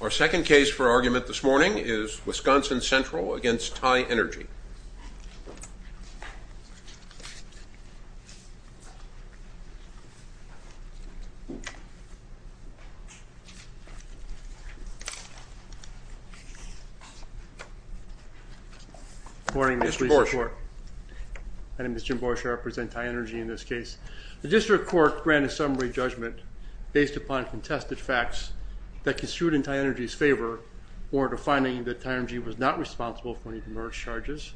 Our second case for argument this morning is Wisconsin Central v. Tienergy. Good morning, Mr. Borshe. My name is Jim Borshe. I represent Tienergy in this case. The district court granted summary judgment based upon contested facts that construed in Tienergy's favor or defining that Tienergy was not responsible for any demerge charges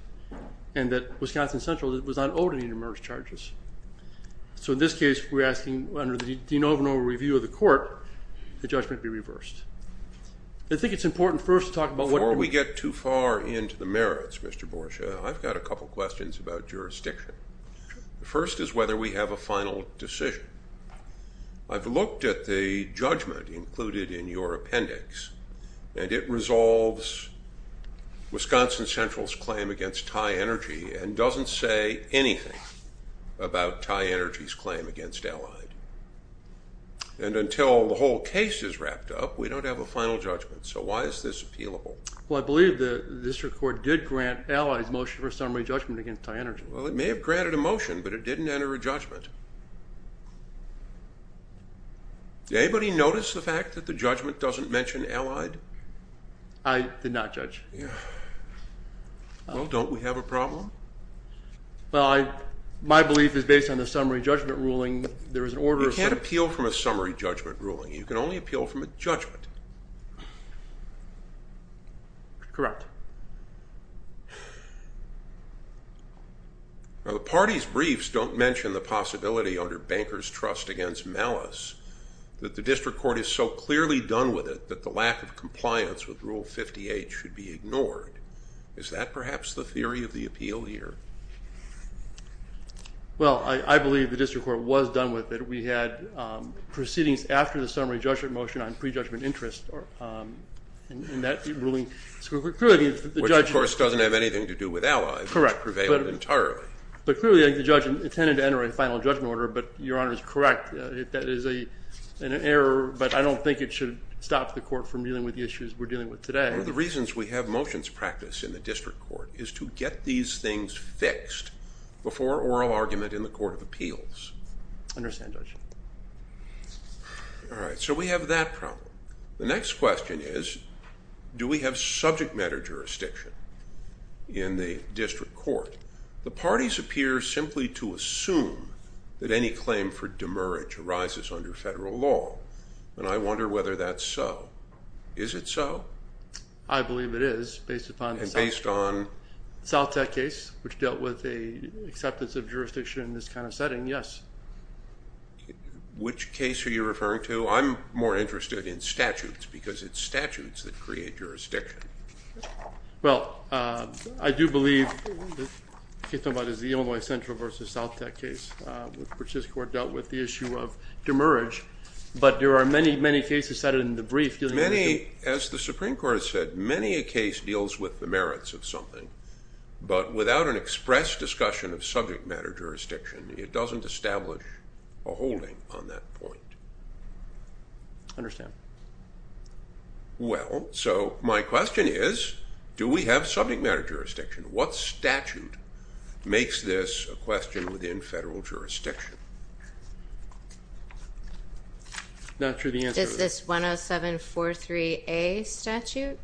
and that Wisconsin Central was not owed any demerge charges. So in this case, we're asking under the de novo review of the court, the judgment be reversed. I think it's important first to talk about what... Before we get too far into the merits, Mr. Borshe, I've got a couple questions about jurisdiction. The first is whether we have a final decision. I've looked at the judgment included in your appendix, and it resolves Wisconsin Central's claim against Tienergy and doesn't say anything about Tienergy's claim against Allied. And until the whole case is wrapped up, we don't have a final judgment. So why is this appealable? Well, I believe the district court did grant Allied's motion for summary judgment against Tienergy. Well, it may have granted a motion, but it didn't enter a judgment. Did anybody notice the fact that the judgment doesn't mention Allied? I did not, Judge. Well, don't we have a problem? Well, my belief is based on the summary judgment ruling. There is an order of... You can't appeal from a summary judgment ruling. You can only appeal from a judgment. Correct. Now, the party's briefs don't mention the possibility under Banker's Trust against Malice that the district court is so clearly done with it that the lack of compliance with Rule 58 should be ignored. Is that perhaps the theory of the appeal here? Well, I believe the district court was done with it. We had proceedings after the summary judgment motion on prejudgment interest in that ruling. Which, of course, doesn't have anything to do with Allied. Correct. Which prevailed entirely. But clearly, the judge intended to enter a final judgment order, but Your Honor is correct. That is an error, but I don't think it should stop the court from dealing with the issues we're dealing with today. One of the reasons we have motions practice in the district court is to get these things fixed before oral argument in the Court of Appeals. I understand, Judge. All right, so we have that problem. The next question is, do we have subject matter jurisdiction in the district court? The parties appear simply to assume that any claim for demerit arises under federal law, and I wonder whether that's so. Is it so? I believe it is, based upon the South Tech case, which dealt with the acceptance of jurisdiction in this kind of setting, yes. Which case are you referring to? I'm more interested in statutes, because it's statutes that create jurisdiction. Well, I do believe the case we're talking about is the Illinois Central v. South Tech case, which this court dealt with the issue of demerit. As the Supreme Court has said, many a case deals with the merits of something, but without an express discussion of subject matter jurisdiction, it doesn't establish a holding on that point. I understand. Well, so my question is, do we have subject matter jurisdiction? What statute makes this a question within federal jurisdiction? Not sure the answer is. Is this 10743A statute?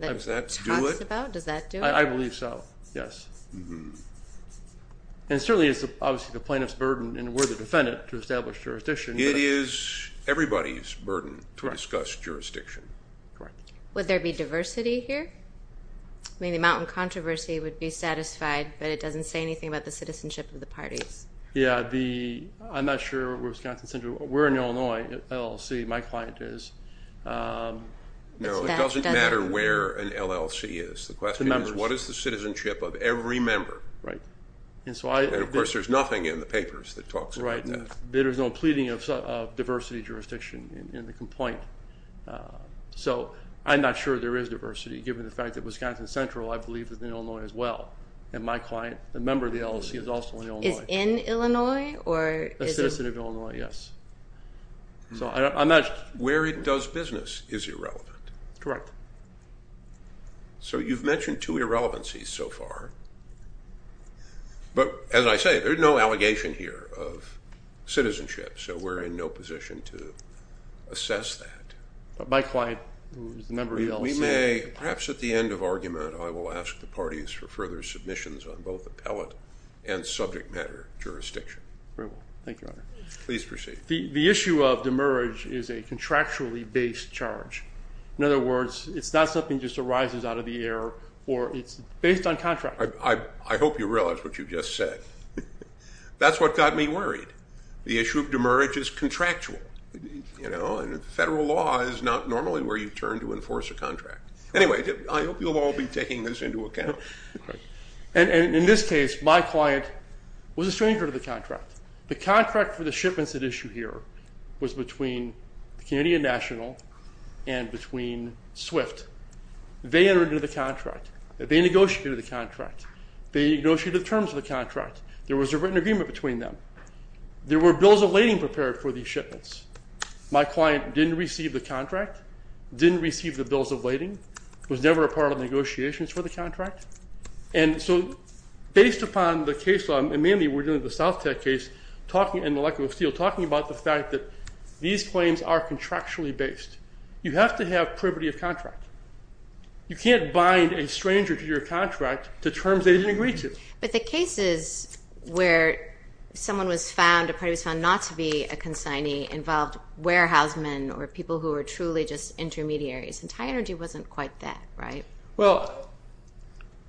Does that do it? Does that do it? I believe so, yes. And certainly it's obviously the plaintiff's burden, and we're the defendant, to establish jurisdiction. It is everybody's burden to discuss jurisdiction. Correct. Would there be diversity here? I mean, the mountain controversy would be satisfied, but it doesn't say anything about the citizenship of the parties. Yeah, I'm not sure Wisconsin Central. We're in Illinois, LLC. My client is. No, it doesn't matter where an LLC is. The question is, what is the citizenship of every member? Right. And, of course, there's nothing in the papers that talks about that. Right. There's no pleading of diversity jurisdiction in the complaint. So, I'm not sure there is diversity, given the fact that Wisconsin Central, I believe, is in Illinois as well. And my client, a member of the LLC, is also in Illinois. Is in Illinois? A citizen of Illinois, yes. So, I'm not. Where it does business is irrelevant. Correct. So, you've mentioned two irrelevancies so far. But, as I say, there's no allegation here of citizenship. So, we're in no position to assess that. But my client, who is a member of the LLC. We may, perhaps at the end of argument, I will ask the parties for further submissions on both appellate and subject matter jurisdiction. Very well. Thank you, Your Honor. Please proceed. The issue of demerge is a contractually based charge. In other words, it's not something that just arises out of the air, or it's based on contract. I hope you realize what you just said. That's what got me worried. The issue of demerge is contractual. You know, and federal law is not normally where you turn to enforce a contract. Anyway, I hope you'll all be taking this into account. And in this case, my client was a stranger to the contract. The contract for the shipments at issue here was between the Canadian National and between SWIFT. They entered into the contract. They negotiated the contract. They negotiated the terms of the contract. There was a written agreement between them. There were bills of lading prepared for these shipments. My client didn't receive the contract, didn't receive the bills of lading, was never a part of negotiations for the contract. And so based upon the case law, and mainly we're dealing with the South Tech case, talking in the lack of steel, talking about the fact that these claims are contractually based. You have to have privity of contract. You can't bind a stranger to your contract to terms they didn't agree to. But the cases where someone was found, a person was found not to be a consignee, involved warehouse men or people who were truly just intermediaries. And TIE Energy wasn't quite that, right? Well,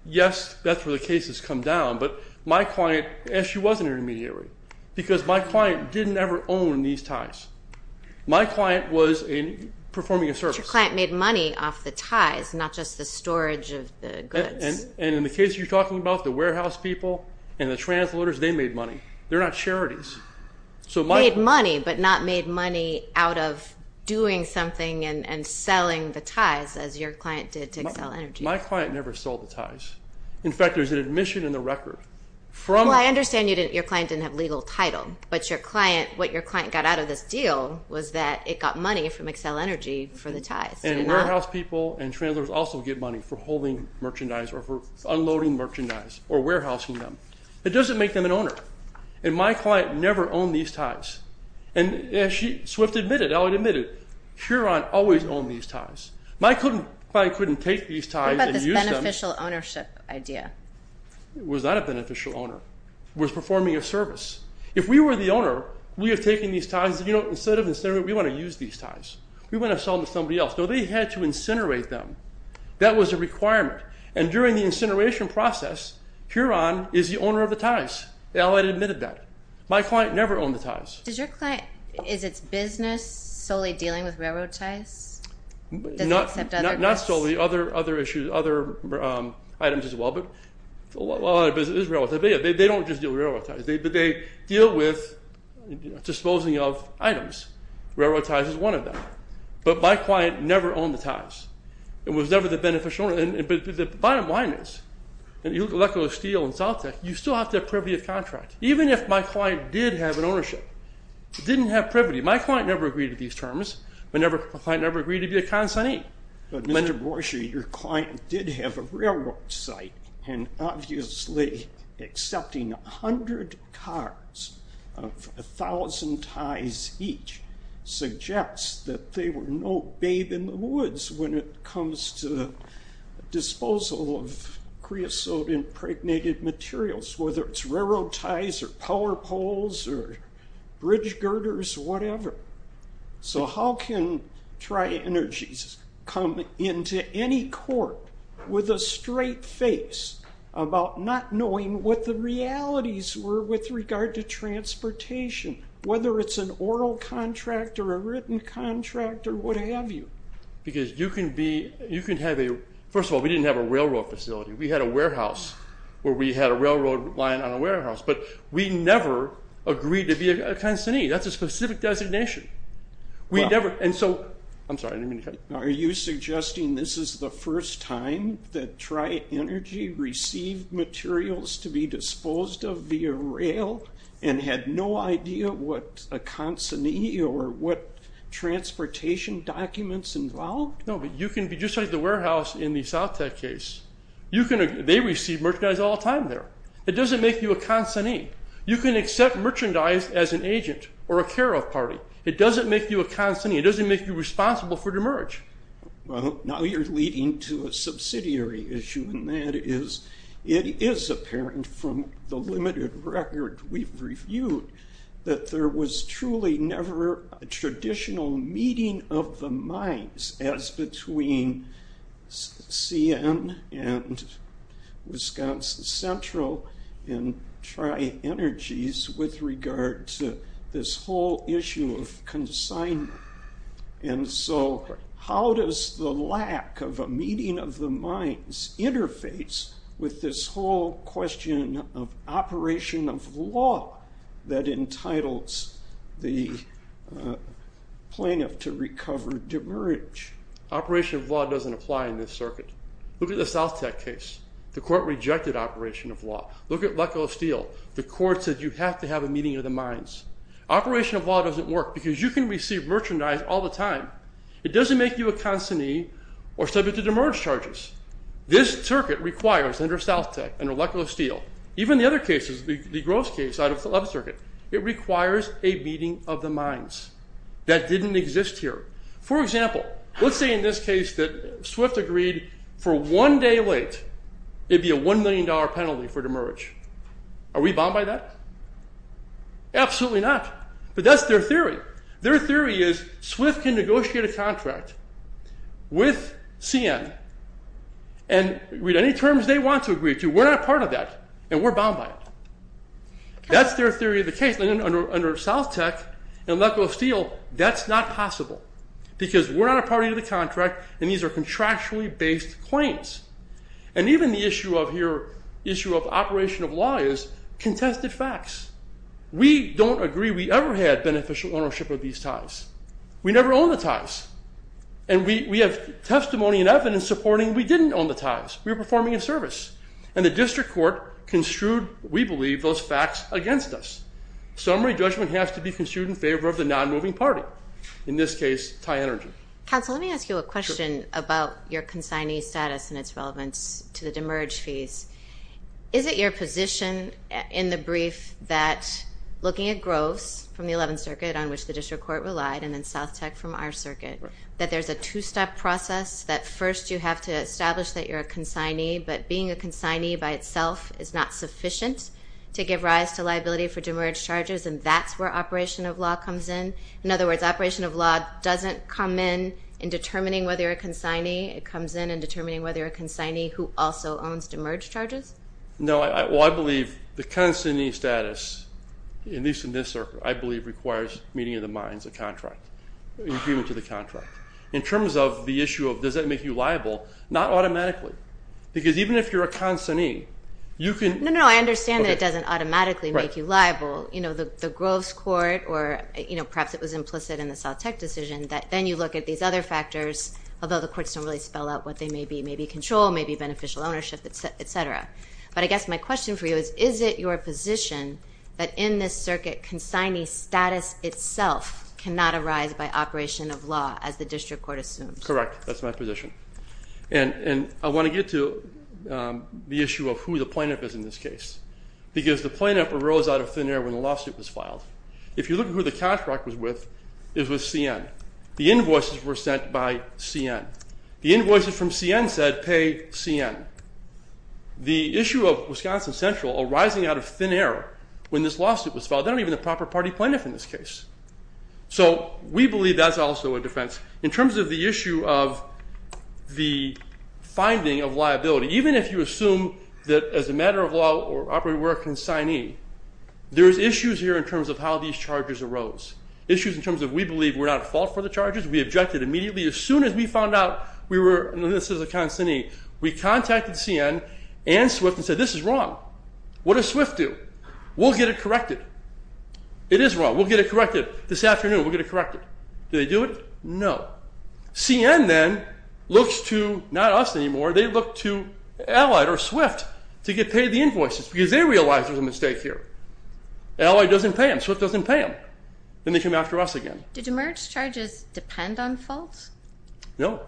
yes, that's where the cases come down. But my client, she was an intermediary because my client didn't ever own these TIEs. My client was performing a service. But your client made money off the TIEs, not just the storage of the goods. And in the case you're talking about, the warehouse people and the translators, they made money. They're not charities. Made money, but not made money out of doing something and selling the TIEs as your client did to Accel Energy. My client never sold the TIEs. In fact, there's an admission in the record. Well, I understand your client didn't have legal title, but what your client got out of this deal was that it got money from Accel Energy for the TIEs. And warehouse people and translators also get money for holding merchandise or for unloading merchandise or warehousing them. It doesn't make them an owner. And my client never owned these TIEs. And as Swift admitted, I already admitted, Chiron always owned these TIEs. My client couldn't take these TIEs and use them. What about this beneficial ownership idea? It was not a beneficial owner. It was performing a service. If we were the owner, we are taking these TIEs. Instead of, we want to use these TIEs. We want to sell them to somebody else. So they had to incinerate them. That was a requirement. And during the incineration process, Chiron is the owner of the TIEs. I already admitted that. My client never owned the TIEs. Does your client, is its business solely dealing with railroad TIEs? Not solely. Other issues, other items as well. But a lot of it is railroad. They don't just deal with railroad TIEs. But they deal with disposing of items. Railroad TIEs is one of them. But my client never owned the TIEs. It was never the beneficial owner. But the bottom line is, you look at Leckler Steel and Salt Tech, you still have to have privity of contract. Even if my client did have an ownership, didn't have privity, my client never agreed to these terms. My client never agreed to be a consignee. But, Mr. Borcher, your client did have a railroad site and obviously accepting 100 cards of 1,000 TIEs each suggests that they were no babe in the woods when it comes to disposal of creosote impregnated materials, whether it's railroad TIEs or power poles or bridge girders, whatever. So how can TRI Energies come into any court with a straight face about not knowing what the realities were with regard to transportation, whether it's an oral contract or a written contract or what have you? Because you can have a – first of all, we didn't have a railroad facility. We had a warehouse where we had a railroad line on a warehouse. But we never agreed to be a consignee. That's a specific designation. We never – and so – I'm sorry, I didn't mean to cut you. Are you suggesting this is the first time that TRI Energy received materials to be disposed of via rail and had no idea what a consignee or what transportation documents involved? No, but you can be just like the warehouse in the South Tech case. They receive merchandise all the time there. It doesn't make you a consignee. You can accept merchandise as an agent or a care of party. It doesn't make you a consignee. It doesn't make you responsible for the merge. Well, now you're leading to a subsidiary issue, and that is it is apparent from the limited record we've reviewed that there was truly never a traditional meeting of the minds as between CN and Wisconsin Central and TRI Energies with regard to this whole issue of consignment. And so how does the lack of a meeting of the minds interface with this whole question of operation of law that entitles the plaintiff to recover demerge? Operation of law doesn't apply in this circuit. Look at the South Tech case. The court rejected operation of law. Look at Lekulow Steel. The court said you have to have a meeting of the minds. Operation of law doesn't work because you can receive merchandise all the time. It doesn't make you a consignee or subject to demerge charges. This circuit requires under South Tech, under Lekulow Steel, even the other cases, the gross case out of the left circuit, it requires a meeting of the minds. That didn't exist here. For example, let's say in this case that SWIFT agreed for one day late it would be a $1 million penalty for demerge. Are we bound by that? Absolutely not. But that's their theory. Their theory is SWIFT can negotiate a contract with CN and read any terms they want to agree to. We're not a part of that and we're bound by it. That's their theory of the case. Under South Tech and Lekulow Steel, that's not possible because we're not a part of the contract and these are contractually based claims. Even the issue of here, the issue of operation of law is contested facts. We don't agree we ever had beneficial ownership of these ties. We never owned the ties. We have testimony and evidence supporting we didn't own the ties. We were performing a service, and the district court construed, we believe, those facts against us. Summary judgment has to be construed in favor of the non-moving party, in this case, TIE Energy. Counsel, let me ask you a question about your consignee status and its relevance to the demerge fees. Is it your position in the brief that looking at Groves from the 11th Circuit, on which the district court relied, and then South Tech from our circuit, that there's a two-step process that first you have to establish that you're a consignee, but being a consignee by itself is not sufficient to give rise to liability for demerge charges, and that's where operation of law comes in? In other words, operation of law doesn't come in in determining whether you're a consignee. It comes in in determining whether you're a consignee who also owns demerge charges? No. Well, I believe the consignee status, at least in this circuit, I believe, requires meeting in the minds of the contract, agreement to the contract. In terms of the issue of does that make you liable, not automatically. Because even if you're a consignee, you can... No, no, I understand that it doesn't automatically make you liable. The Groves court, or perhaps it was implicit in the South Tech decision, that then you look at these other factors, although the courts don't really spell out what they may be. Maybe control, maybe beneficial ownership, et cetera. But I guess my question for you is, is it your position that in this circuit consignee status itself cannot arise by operation of law as the district court assumes? Correct. That's my position. And I want to get to the issue of who the plaintiff is in this case. Because the plaintiff arose out of thin air when the lawsuit was filed. If you look at who the contract was with, it was CN. The invoices were sent by CN. The invoices from CN said pay CN. The issue of Wisconsin Central arising out of thin air when this lawsuit was filed, they're not even the proper party plaintiff in this case. So we believe that's also a defense. In terms of the issue of the finding of liability, even if you assume that as a matter of law or operating work consignee, there's issues here in terms of how these charges arose, issues in terms of we believe we're not at fault for the charges. We objected immediately. As soon as we found out we were, and this is a consignee, we contacted CN and SWIFT and said this is wrong. What does SWIFT do? We'll get it corrected. It is wrong. We'll get it corrected this afternoon. We'll get it corrected. Do they do it? No. CN then looks to not us anymore. They look to Allied or SWIFT to get paid the invoices because they realize there's a mistake here. Allied doesn't pay them. SWIFT doesn't pay them. Then they come after us again. Did emerge charges depend on faults? No,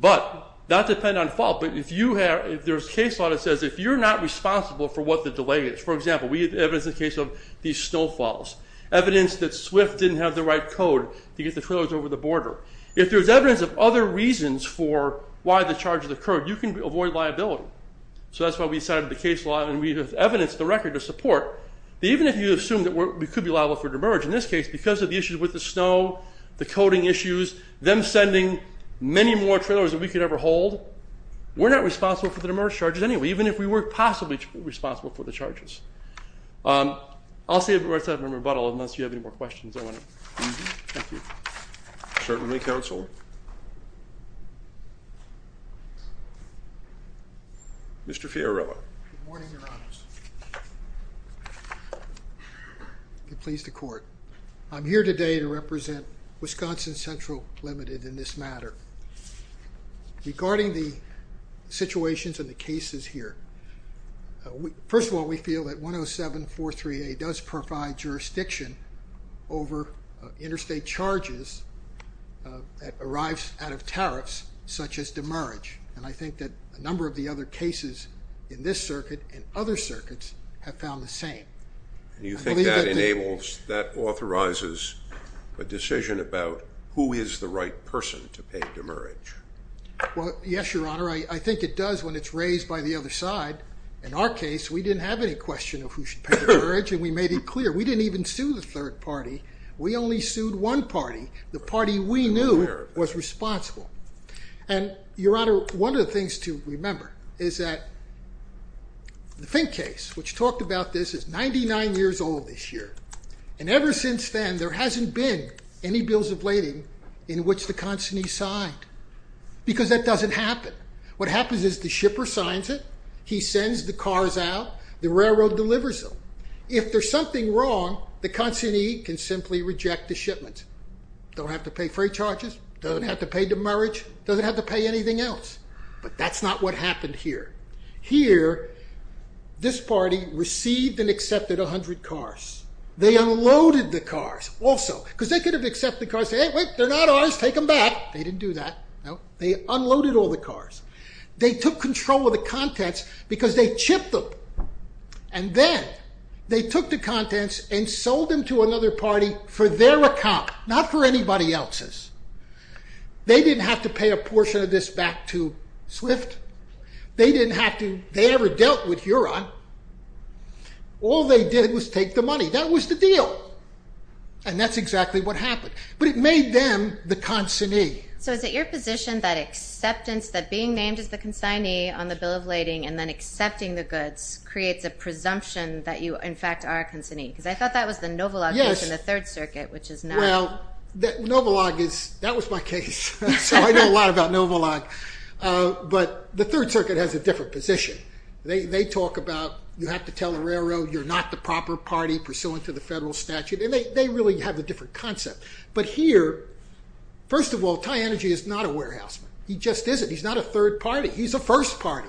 but not depend on fault. But if there's a case law that says if you're not responsible for what the delay is, for example, we have evidence in the case of these snowfalls, evidence that SWIFT didn't have the right code to get the trailers over the border. If there's evidence of other reasons for why the charges occurred, you can avoid liability. So that's why we decided the case law, and we have evidence directly to support. Even if you assume that we could be liable for demerge, in this case, because of the issues with the snow, the coding issues, them sending many more trailers than we could ever hold, we're not responsible for the demerge charges anyway, even if we were possibly responsible for the charges. I'll save the rest of my rebuttal unless you have any more questions. Thank you. Certainly, counsel. Mr. Fiorillo. Good morning, Your Honors. I'm pleased to court. I'm here today to represent Wisconsin Central Limited in this matter. Regarding the situations and the cases here, first of all, we feel that 10743A does provide jurisdiction over interstate charges that arrives out of tariffs, such as demerge, and I think that a number of the other cases in this circuit and other circuits have found the same. You think that enables, that authorizes a decision about who is the right person to pay demerge? Well, yes, Your Honor. I think it does when it's raised by the other side. In our case, we didn't have any question of who should pay demerge, and we made it clear. We didn't even sue the third party. We only sued one party, the party we knew was responsible. And, Your Honor, one of the things to remember is that the Fink case, which talked about this, is 99 years old this year, and ever since then there hasn't been any bills of lading in which the consignee signed because that doesn't happen. What happens is the shipper signs it. He sends the cars out. The railroad delivers them. If there's something wrong, the consignee can simply reject the shipment. Don't have to pay freight charges. Doesn't have to pay demerge. Doesn't have to pay anything else, but that's not what happened here. Here, this party received and accepted 100 cars. They unloaded the cars also because they could have accepted the cars, said, Hey, wait, they're not ours. Take them back. They didn't do that. No. They unloaded all the cars. They took control of the contents because they chipped them, and then they took the contents and sold them to another party for their account, not for anybody else's. They didn't have to pay a portion of this back to SWIFT. They didn't have to. They never dealt with Huron. All they did was take the money. That was the deal, and that's exactly what happened. But it made them the consignee. So is it your position that acceptance, that being named as the consignee on the bill of lading and then accepting the goods creates a presumption that you, in fact, are a consignee? Because I thought that was the Novolog case in the Third Circuit, which is not. Well, Novolog is. That was my case, so I know a lot about Novolog. But the Third Circuit has a different position. They talk about you have to tell the railroad you're not the proper party pursuant to the federal statute, and they really have a different concept. But here, first of all, Ty Energy is not a warehouseman. He just isn't. He's not a third party. He's a first party.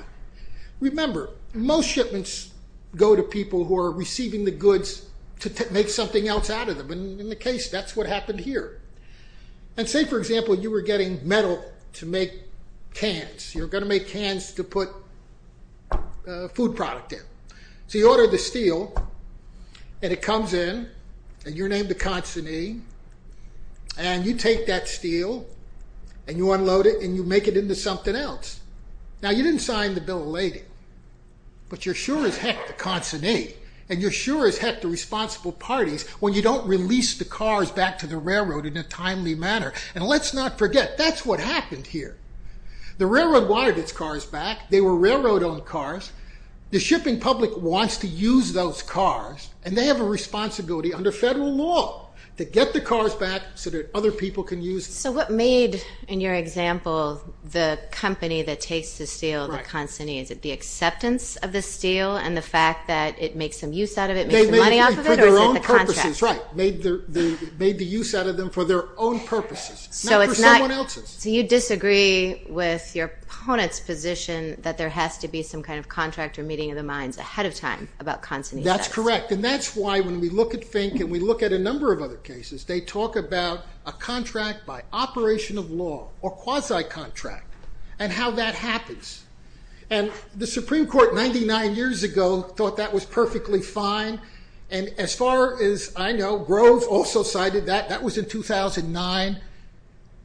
Remember, most shipments go to people who are receiving the goods to make something else out of them, and in the case, that's what happened here. And say, for example, you were getting metal to make cans. You're going to make cans to put food product in. So you order the steel, and it comes in, and you're named the consignee, and you take that steel and you unload it and you make it into something else. Now, you didn't sign the bill of lading, but you're sure as heck the consignee, and you're sure as heck the responsible parties when you don't release the cars back to the railroad in a timely manner. And let's not forget, that's what happened here. The railroad wanted its cars back. They were railroad-owned cars. The shipping public wants to use those cars, and they have a responsibility under federal law to get the cars back so that other people can use them. So what made, in your example, the company that takes the steel, the consignee, is it the acceptance of the steel and the fact that it makes some use out of it, or is it the contract? Right, made the use out of them for their own purposes, not for someone else's. So you disagree with your opponent's position that there has to be some kind of contract or meeting of the minds ahead of time about consignee status. That's correct, and that's why when we look at Fink and we look at a number of other cases, they talk about a contract by operation of law or quasi-contract and how that happens. And the Supreme Court 99 years ago thought that was perfectly fine, and as far as I know, Groves also cited that. That was in 2009,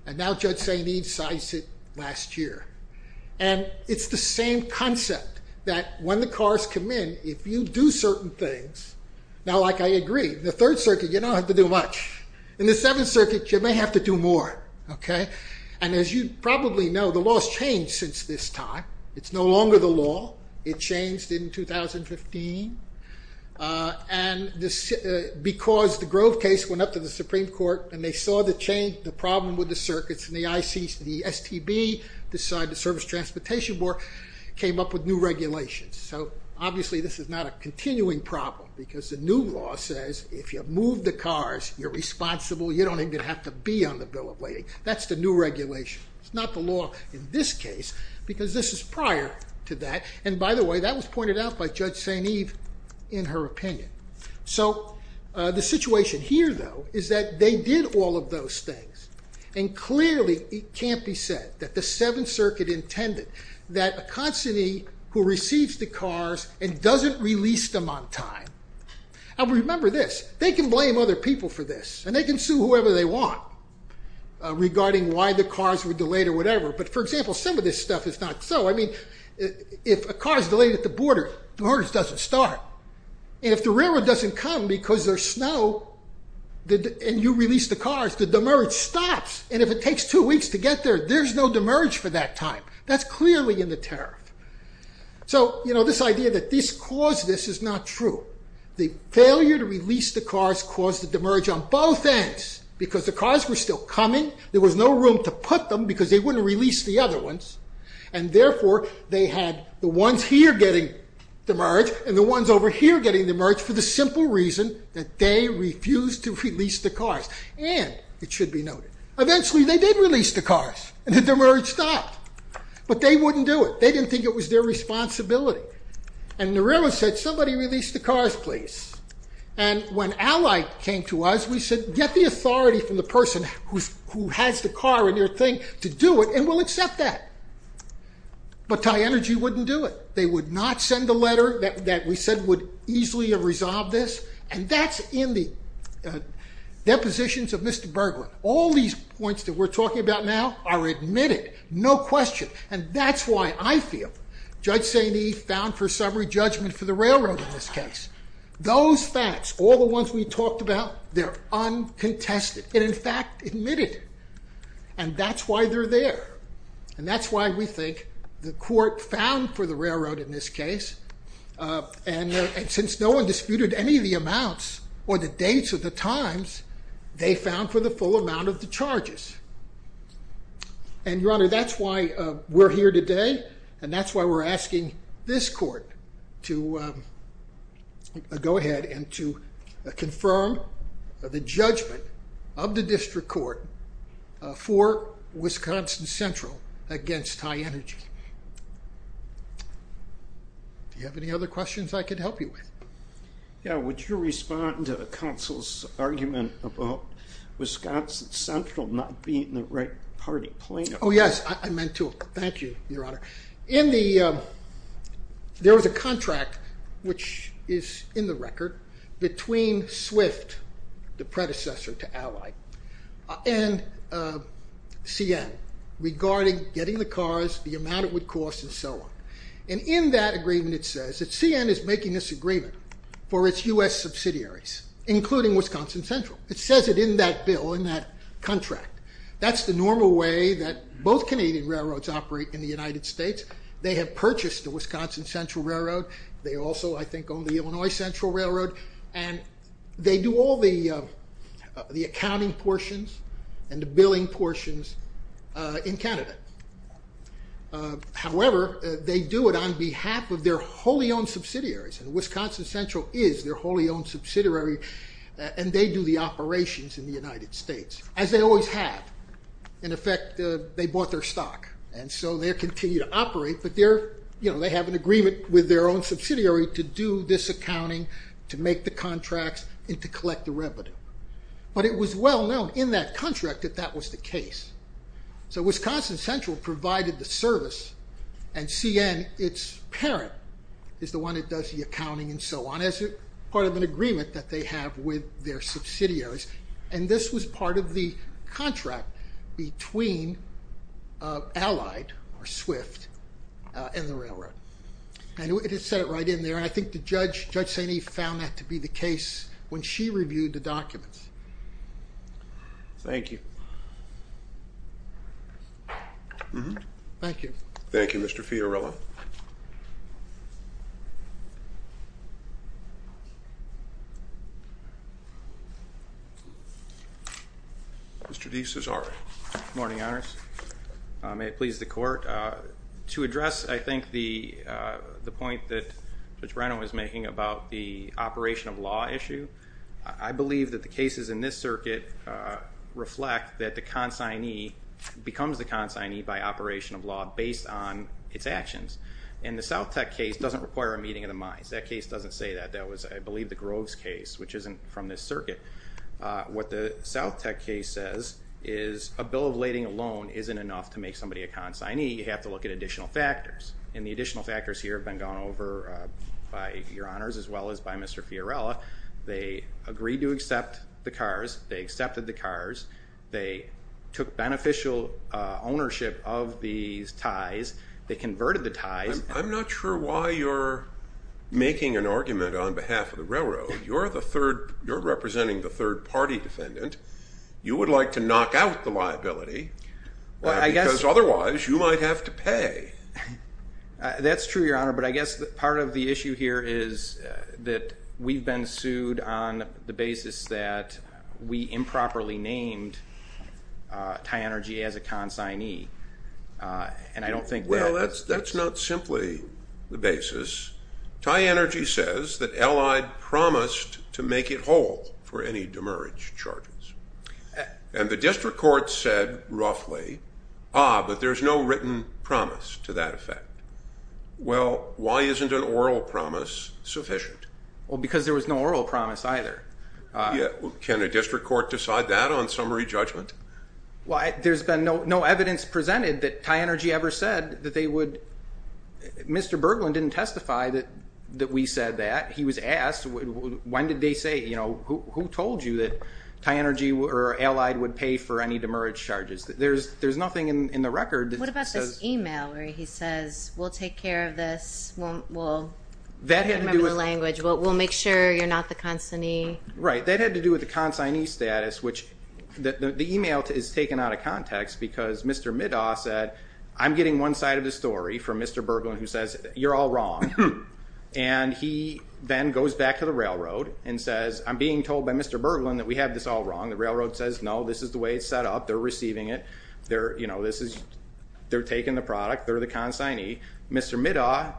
and now Judge St. Ives cites it last year. And it's the same concept that when the cars come in, if you do certain things... Now, like, I agree, in the Third Circuit, you don't have to do much. In the Seventh Circuit, you may have to do more, okay? And as you probably know, the law has changed since this time. It's no longer the law. It changed in 2015. And because the Grove case went up to the Supreme Court and they saw the change, the problem with the circuits, and the STB, the Cyber Service Transportation Board, came up with new regulations. So obviously this is not a continuing problem because the new law says if you move the cars, you're responsible, you don't even have to be on the bill of lading. That's the new regulation. It's not the law in this case because this is prior to that. And by the way, that was pointed out by Judge St. Ives in her opinion. So the situation here, though, is that they did all of those things, and clearly it can't be said that the Seventh Circuit intended that a constantee who receives the cars and doesn't release them on time... Now, remember this. They can blame other people for this, and they can sue whoever they want. Regarding why the cars were delayed or whatever. But, for example, some of this stuff is not so. I mean, if a car is delayed at the border, the demerge doesn't start. And if the railroad doesn't come because there's snow, and you release the cars, the demerge stops. And if it takes two weeks to get there, there's no demerge for that time. That's clearly in the tariff. So, you know, this idea that this caused this is not true. The failure to release the cars caused the demerge on both ends because the cars were still coming. There was no room to put them because they wouldn't release the other ones. And, therefore, they had the ones here getting demerged and the ones over here getting demerged for the simple reason that they refused to release the cars. And, it should be noted, eventually they did release the cars, and the demerge stopped. But they wouldn't do it. They didn't think it was their responsibility. And the railroad said, somebody release the cars, please. And when Allied came to us, we said, get the authority from the person who has the car in your thing to do it, and we'll accept that. But TyEnergy wouldn't do it. They would not send a letter that we said would easily resolve this. And that's in the depositions of Mr. Bergeron. All these points that we're talking about now are admitted, no question. And that's why I feel Judge Saini found for summary judgment for the railroad in this case. Those facts, all the ones we talked about, they're uncontested, and, in fact, admitted. And that's why they're there. And that's why we think the court found for the railroad in this case, and since no one disputed any of the amounts or the dates or the times, they found for the full amount of the charges. And, Your Honor, that's why we're here today, and that's why we're asking this court to go ahead and to confirm the judgment of the district court for Wisconsin Central against TyEnergy. Do you have any other questions I could help you with? Yeah, would you respond to counsel's argument about Wisconsin Central not being the right party plaintiff? Oh, yes, I meant to. Thank you, Your Honor. There was a contract, which is in the record, between Swift, the predecessor to Ally, and CN regarding getting the cars, the amount it would cost, and so on. And in that agreement it says that CN is making this agreement for its U.S. subsidiaries, including Wisconsin Central. It says it in that bill, in that contract. That's the normal way that both Canadian railroads operate in the United States. They have purchased the Wisconsin Central Railroad. They also, I think, own the Illinois Central Railroad, and they do all the accounting portions and the billing portions in Canada. However, they do it on behalf of their wholly owned subsidiaries, and Wisconsin Central is their wholly owned subsidiary, and they do the operations in the United States, as they always have. In effect, they bought their stock, and so they continue to operate, but they have an agreement with their own subsidiary to do this accounting, to make the contracts, and to collect the revenue. But it was well known in that contract that that was the case. So Wisconsin Central provided the service, and CN, its parent, is the one that does the accounting and so on, as part of an agreement that they have with their subsidiaries. And this was part of the contract between Allied, or SWIFT, and the railroad. And it is set right in there, and I think Judge Saini found that to be the case when she reviewed the documents. Thank you. Thank you. Thank you, Mr. Fiorillo. Mr. DeCesare. Good morning, Honors. May it please the Court. To address, I think, the point that Judge Breno was making about the operation of law issue, I believe that the cases in this circuit reflect that the consignee becomes the consignee by operation of law based on its actions. And the South Tech case doesn't require a meeting of the minds. That case doesn't say that. That was, I believe, the Groves case, which isn't from this circuit. What the South Tech case says is a bill of lading alone isn't enough to make somebody a consignee. You have to look at additional factors. And the additional factors here have been gone over by your Honors as well as by Mr. Fiorillo. They agreed to accept the cars. They accepted the cars. They took beneficial ownership of these ties. They converted the ties. I'm not sure why you're making an argument on behalf of the railroad. You're representing the third-party defendant. You would like to knock out the liability, because otherwise you might have to pay. That's true, Your Honor. But I guess part of the issue here is that we've been sued on the basis that we improperly named Ty Energy as a consignee. Well, that's not simply the basis. Ty Energy says that Allied promised to make it whole for any demerit charges. And the district court said roughly, ah, but there's no written promise to that effect. Well, why isn't an oral promise sufficient? Well, because there was no oral promise either. Can a district court decide that on summary judgment? There's been no evidence presented that Ty Energy ever said that they would. Mr. Bergland didn't testify that we said that. He was asked, when did they say, who told you that Ty Energy or Allied would pay for any demerit charges? There's nothing in the record that says. What about this email where he says, we'll take care of this. We'll remember the language. We'll make sure you're not the consignee. Right. That had to do with the consignee status, which the email is taken out of context because Mr. Middaw said, I'm getting one side of the story from Mr. Bergland who says, you're all wrong. And he then goes back to the railroad and says, I'm being told by Mr. Bergland that we have this all wrong. The railroad says, no, this is the way it's set up. They're receiving it. They're taking the product. They're the consignee. Mr. Middaw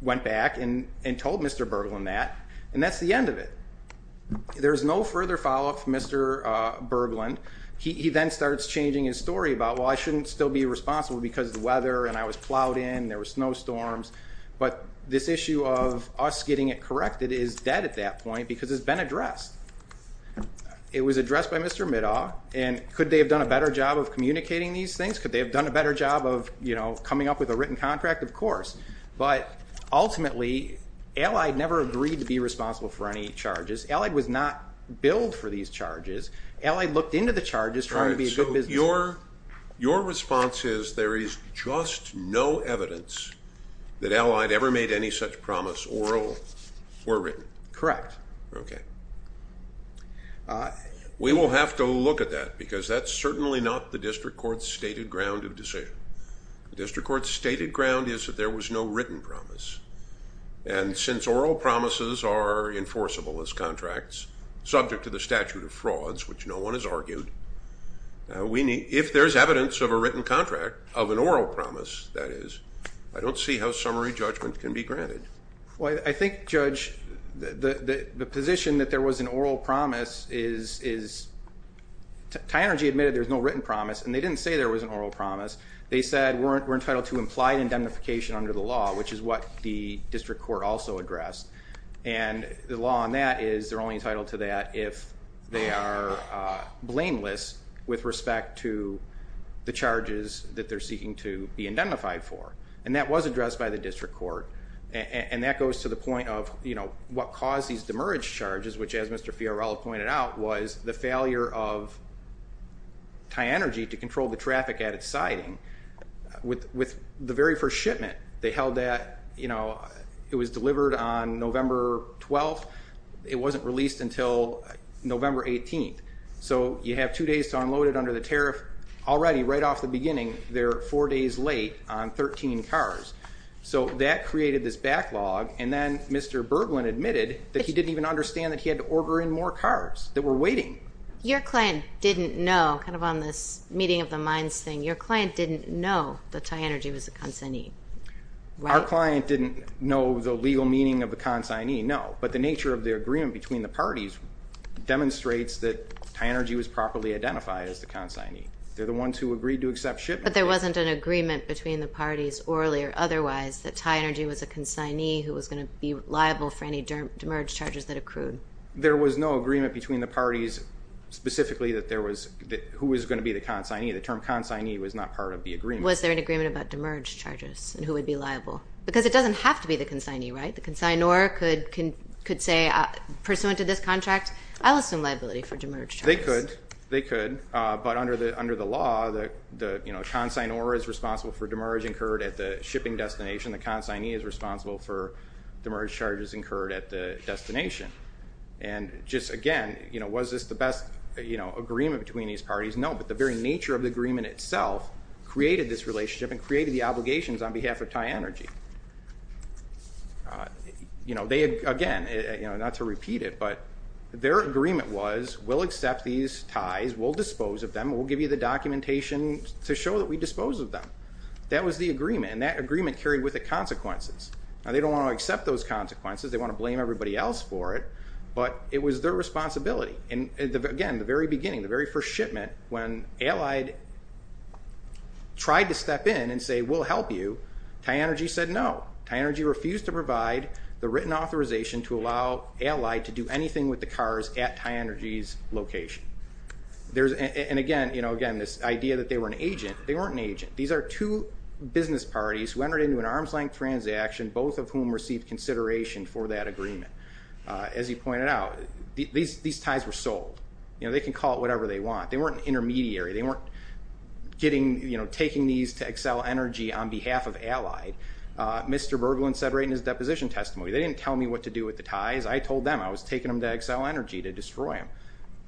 went back and told Mr. Bergland that. And that's the end of it. There's no further follow-up from Mr. Bergland. He then starts changing his story about, well, I shouldn't still be responsible because of the weather and I was plowed in, there were snowstorms. But this issue of us getting it corrected is dead at that point because it's been addressed. It was addressed by Mr. Middaw. And could they have done a better job of communicating these things? Of course. But ultimately, Allied never agreed to be responsible for any charges. Allied was not billed for these charges. Allied looked into the charges trying to be a good business. Your response is there is just no evidence that Allied ever made any such promise or were written? Correct. Okay. We will have to look at that because that's certainly not the district court's stated ground of decision. The district court's stated ground is that there was no written promise. And since oral promises are enforceable as contracts, subject to the statute of frauds, which no one has argued, if there's evidence of a written contract, of an oral promise, that is, I don't see how summary judgment can be granted. Well, I think, Judge, the position that there was an oral promise is Tynergy admitted there's no written promise and they didn't say there was an oral promise. They said we're entitled to implied indemnification under the law, which is what the district court also addressed. And the law on that is they're only entitled to that if they are blameless with respect to the charges that they're seeking to be indemnified for. And that was addressed by the district court. And that goes to the point of what caused these demerge charges, which, as Mr. Fiorello pointed out, was the failure of Tynergy to control the traffic at its siding. With the very first shipment, they held that, you know, it was delivered on November 12th. It wasn't released until November 18th. So you have two days to unload it under the tariff. Already, right off the beginning, they're four days late on 13 cars. So that created this backlog. And then Mr. Berglin admitted that he didn't even understand that he had to order in more cars that were waiting. Your client didn't know, kind of on this meeting of the minds thing, your client didn't know that Tynergy was a consignee, right? Our client didn't know the legal meaning of the consignee, no. But the nature of the agreement between the parties demonstrates that Tynergy was properly identified as the consignee. They're the ones who agreed to accept shipment. But there wasn't an agreement between the parties, orally or otherwise, that Tynergy was a consignee who was going to be liable for any demerge charges that accrued. There was no agreement between the parties specifically that there was who was going to be the consignee. The term consignee was not part of the agreement. Was there an agreement about demerge charges and who would be liable? Because it doesn't have to be the consignee, right? The consignor could say, pursuant to this contract, I'll assume liability for demerge charges. They could. But under the law, the consignor is responsible for demerge incurred at the shipping destination. The consignee is responsible for demerge charges incurred at the destination. And just, again, was this the best agreement between these parties? No, but the very nature of the agreement itself created this relationship and created the obligations on behalf of Tynergy. Again, not to repeat it, but their agreement was, we'll accept these ties, we'll dispose of them, we'll give you the documentation to show that we dispose of them. That was the agreement. And that agreement carried with it consequences. Now, they don't want to accept those consequences. They want to blame everybody else for it. But it was their responsibility. And, again, the very beginning, the very first shipment, when Allied tried to step in and say, we'll help you, Tynergy said no. Tynergy refused to provide the written authorization to allow Allied to do anything with the cars at Tynergy's location. And, again, this idea that they were an agent, they weren't an agent. These are two business parties who entered into an arm's-length transaction, both of whom received consideration for that agreement. As you pointed out, these ties were sold. They can call it whatever they want. They weren't an intermediary. They weren't taking these to excel energy on behalf of Allied. Mr. Berglund said right in his deposition testimony, they didn't tell me what to do with the ties. I told them I was taking them to excel energy to destroy them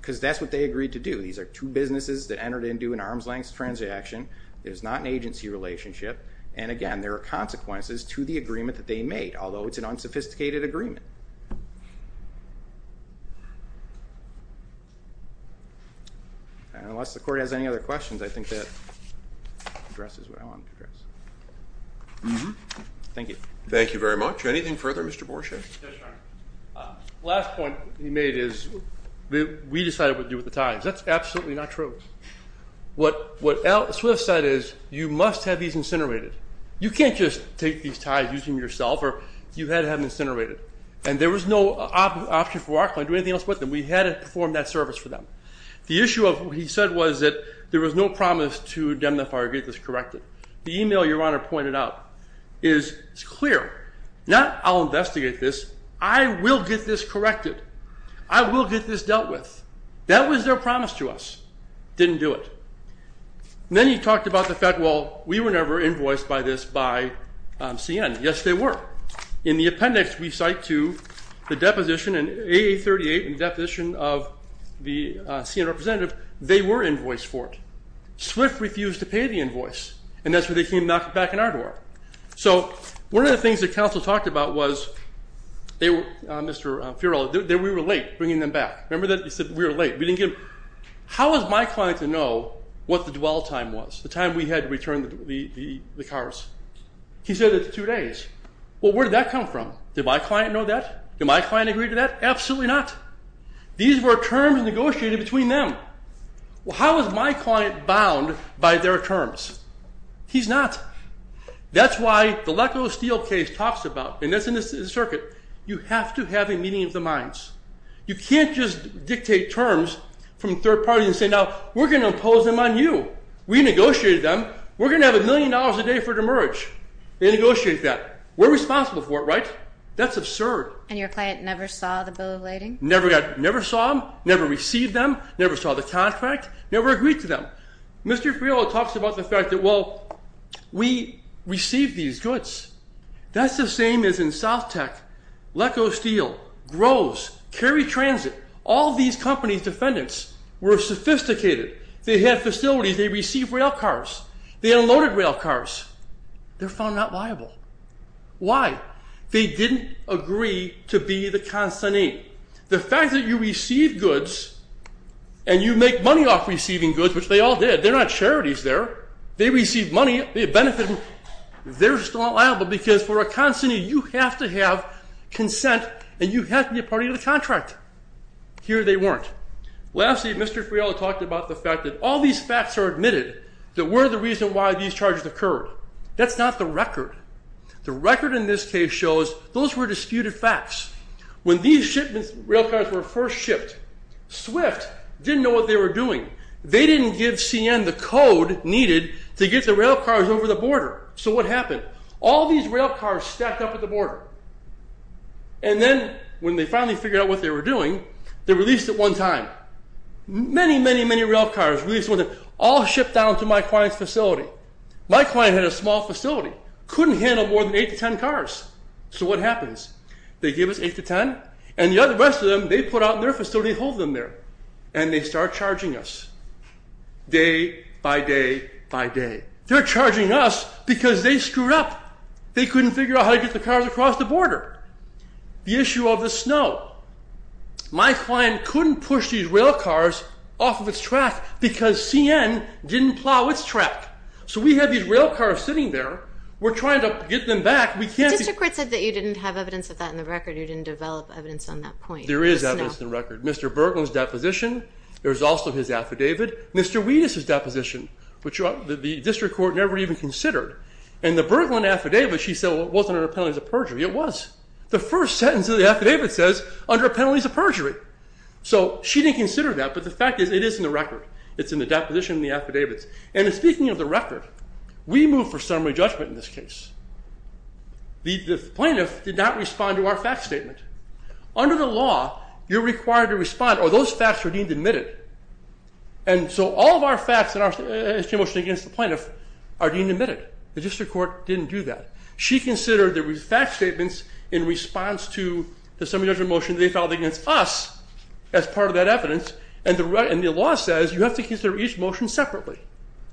because that's what they agreed to do. These are two businesses that entered into an arm's-length transaction. There's not an agency relationship. And, again, there are consequences to the agreement that they made, although it's an unsophisticated agreement. Unless the Court has any other questions, I think that addresses what I wanted to address. Thank you. Thank you very much. Anything further, Mr. Borshett? Yes, Your Honor. The last point you made is we decided what to do with the ties. That's absolutely not true. What Swift said is you must have these incinerated. You can't just take these ties, use them yourself, or you've got to have them incinerated. And there was no option for Rockland to do anything else with them. We had to perform that service for them. The issue of what he said was that there was no promise to indemnify or get this corrected. The email Your Honor pointed out is clear. Not I'll investigate this. I will get this corrected. I will get this dealt with. That was their promise to us. Didn't do it. Then he talked about the fact, well, we were never invoiced by this by CN. Yes, they were. In the appendix we cite to the deposition, in AA38 in the deposition of the CN representative, they were invoiced for it. Swift refused to pay the invoice. And that's where they came knocking back on our door. So one of the things that counsel talked about was, Mr. Fiorillo, that we were late bringing them back. Remember that? He said we were late. How was my client to know what the dwell time was, the time we had to return the cars? He said it's two days. Well, where did that come from? Did my client know that? Did my client agree to that? Absolutely not. These were terms negotiated between them. Well, how is my client bound by their terms? He's not. That's why the Leko Steel case talks about, and that's in the circuit, you have to have a meeting of the minds. You can't just dictate terms from third parties and say, now we're going to impose them on you. We negotiated them. We're going to have a million dollars a day for the merge. They negotiated that. We're responsible for it, right? That's absurd. And your client never saw the bill of lading? Never saw them, never received them, never saw the contract, never agreed to them. Mr. Fiorillo talks about the fact that, well, we received these goods. That's the same as in South Tech. Leko Steel, Groves, Cary Transit, all these companies' defendants were sophisticated. They had facilities. They received rail cars. They unloaded rail cars. They're found not liable. Why? They didn't agree to be the consignee. The fact that you receive goods and you make money off receiving goods, which they all did, they're not charities there. They receive money. They benefit. They're still not liable because for a consignee you have to have consent and you have to be a part of the contract. Here they weren't. Lastly, Mr. Fiorillo talked about the fact that all these facts are admitted that were the reason why these charges occurred. That's not the record. The record in this case shows those were disputed facts. When these rail cars were first shipped, Swift didn't know what they were doing. They didn't give CN the code needed to get the rail cars over the border. So what happened? All these rail cars stacked up at the border. And then when they finally figured out what they were doing, they released it one time. Many, many, many rail cars released one time, all shipped down to my client's facility. My client had a small facility, couldn't handle more than 8 to 10 cars. So what happens? They give us 8 to 10, and the rest of them, they put out in their facility and hold them there. And they start charging us. Day by day by day. They're charging us because they screwed up. They couldn't figure out how to get the cars across the border. The issue of the snow. My client couldn't push these rail cars off of its track because CN didn't plow its track. So we have these rail cars sitting there. We're trying to get them back. The district court said that you didn't have evidence of that in the record. You didn't develop evidence on that point. There is evidence in the record. Mr. Berglund's deposition, there's also his affidavit. Mr. Wetus's deposition, which the district court never even considered. In the Berglund affidavit, she said it wasn't under penalties of perjury. It was. The first sentence of the affidavit says under penalties of perjury. So she didn't consider that, but the fact is it is in the record. It's in the deposition and the affidavits. And speaking of the record, we moved for summary judgment in this case. The plaintiff did not respond to our fact statement. Under the law, you're required to respond, or those facts are deemed admitted. And so all of our facts in our motion against the plaintiff are deemed admitted. The district court didn't do that. She considered the fact statements in response to the summary judgment motion they filed against us as part of that evidence. And the law says you have to consider each motion separately.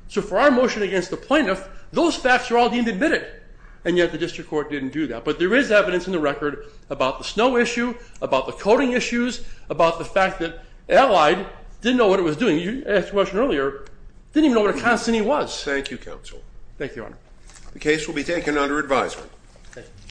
So for our motion against the plaintiff, those facts are all deemed admitted. And yet the district court didn't do that. But there is evidence in the record about the snow issue, about the coating issues, about the fact that Allied didn't know what it was doing. You asked the question earlier, didn't even know what a constantine was. Thank you, counsel. Thank you, Your Honor. The case will be taken under advisement.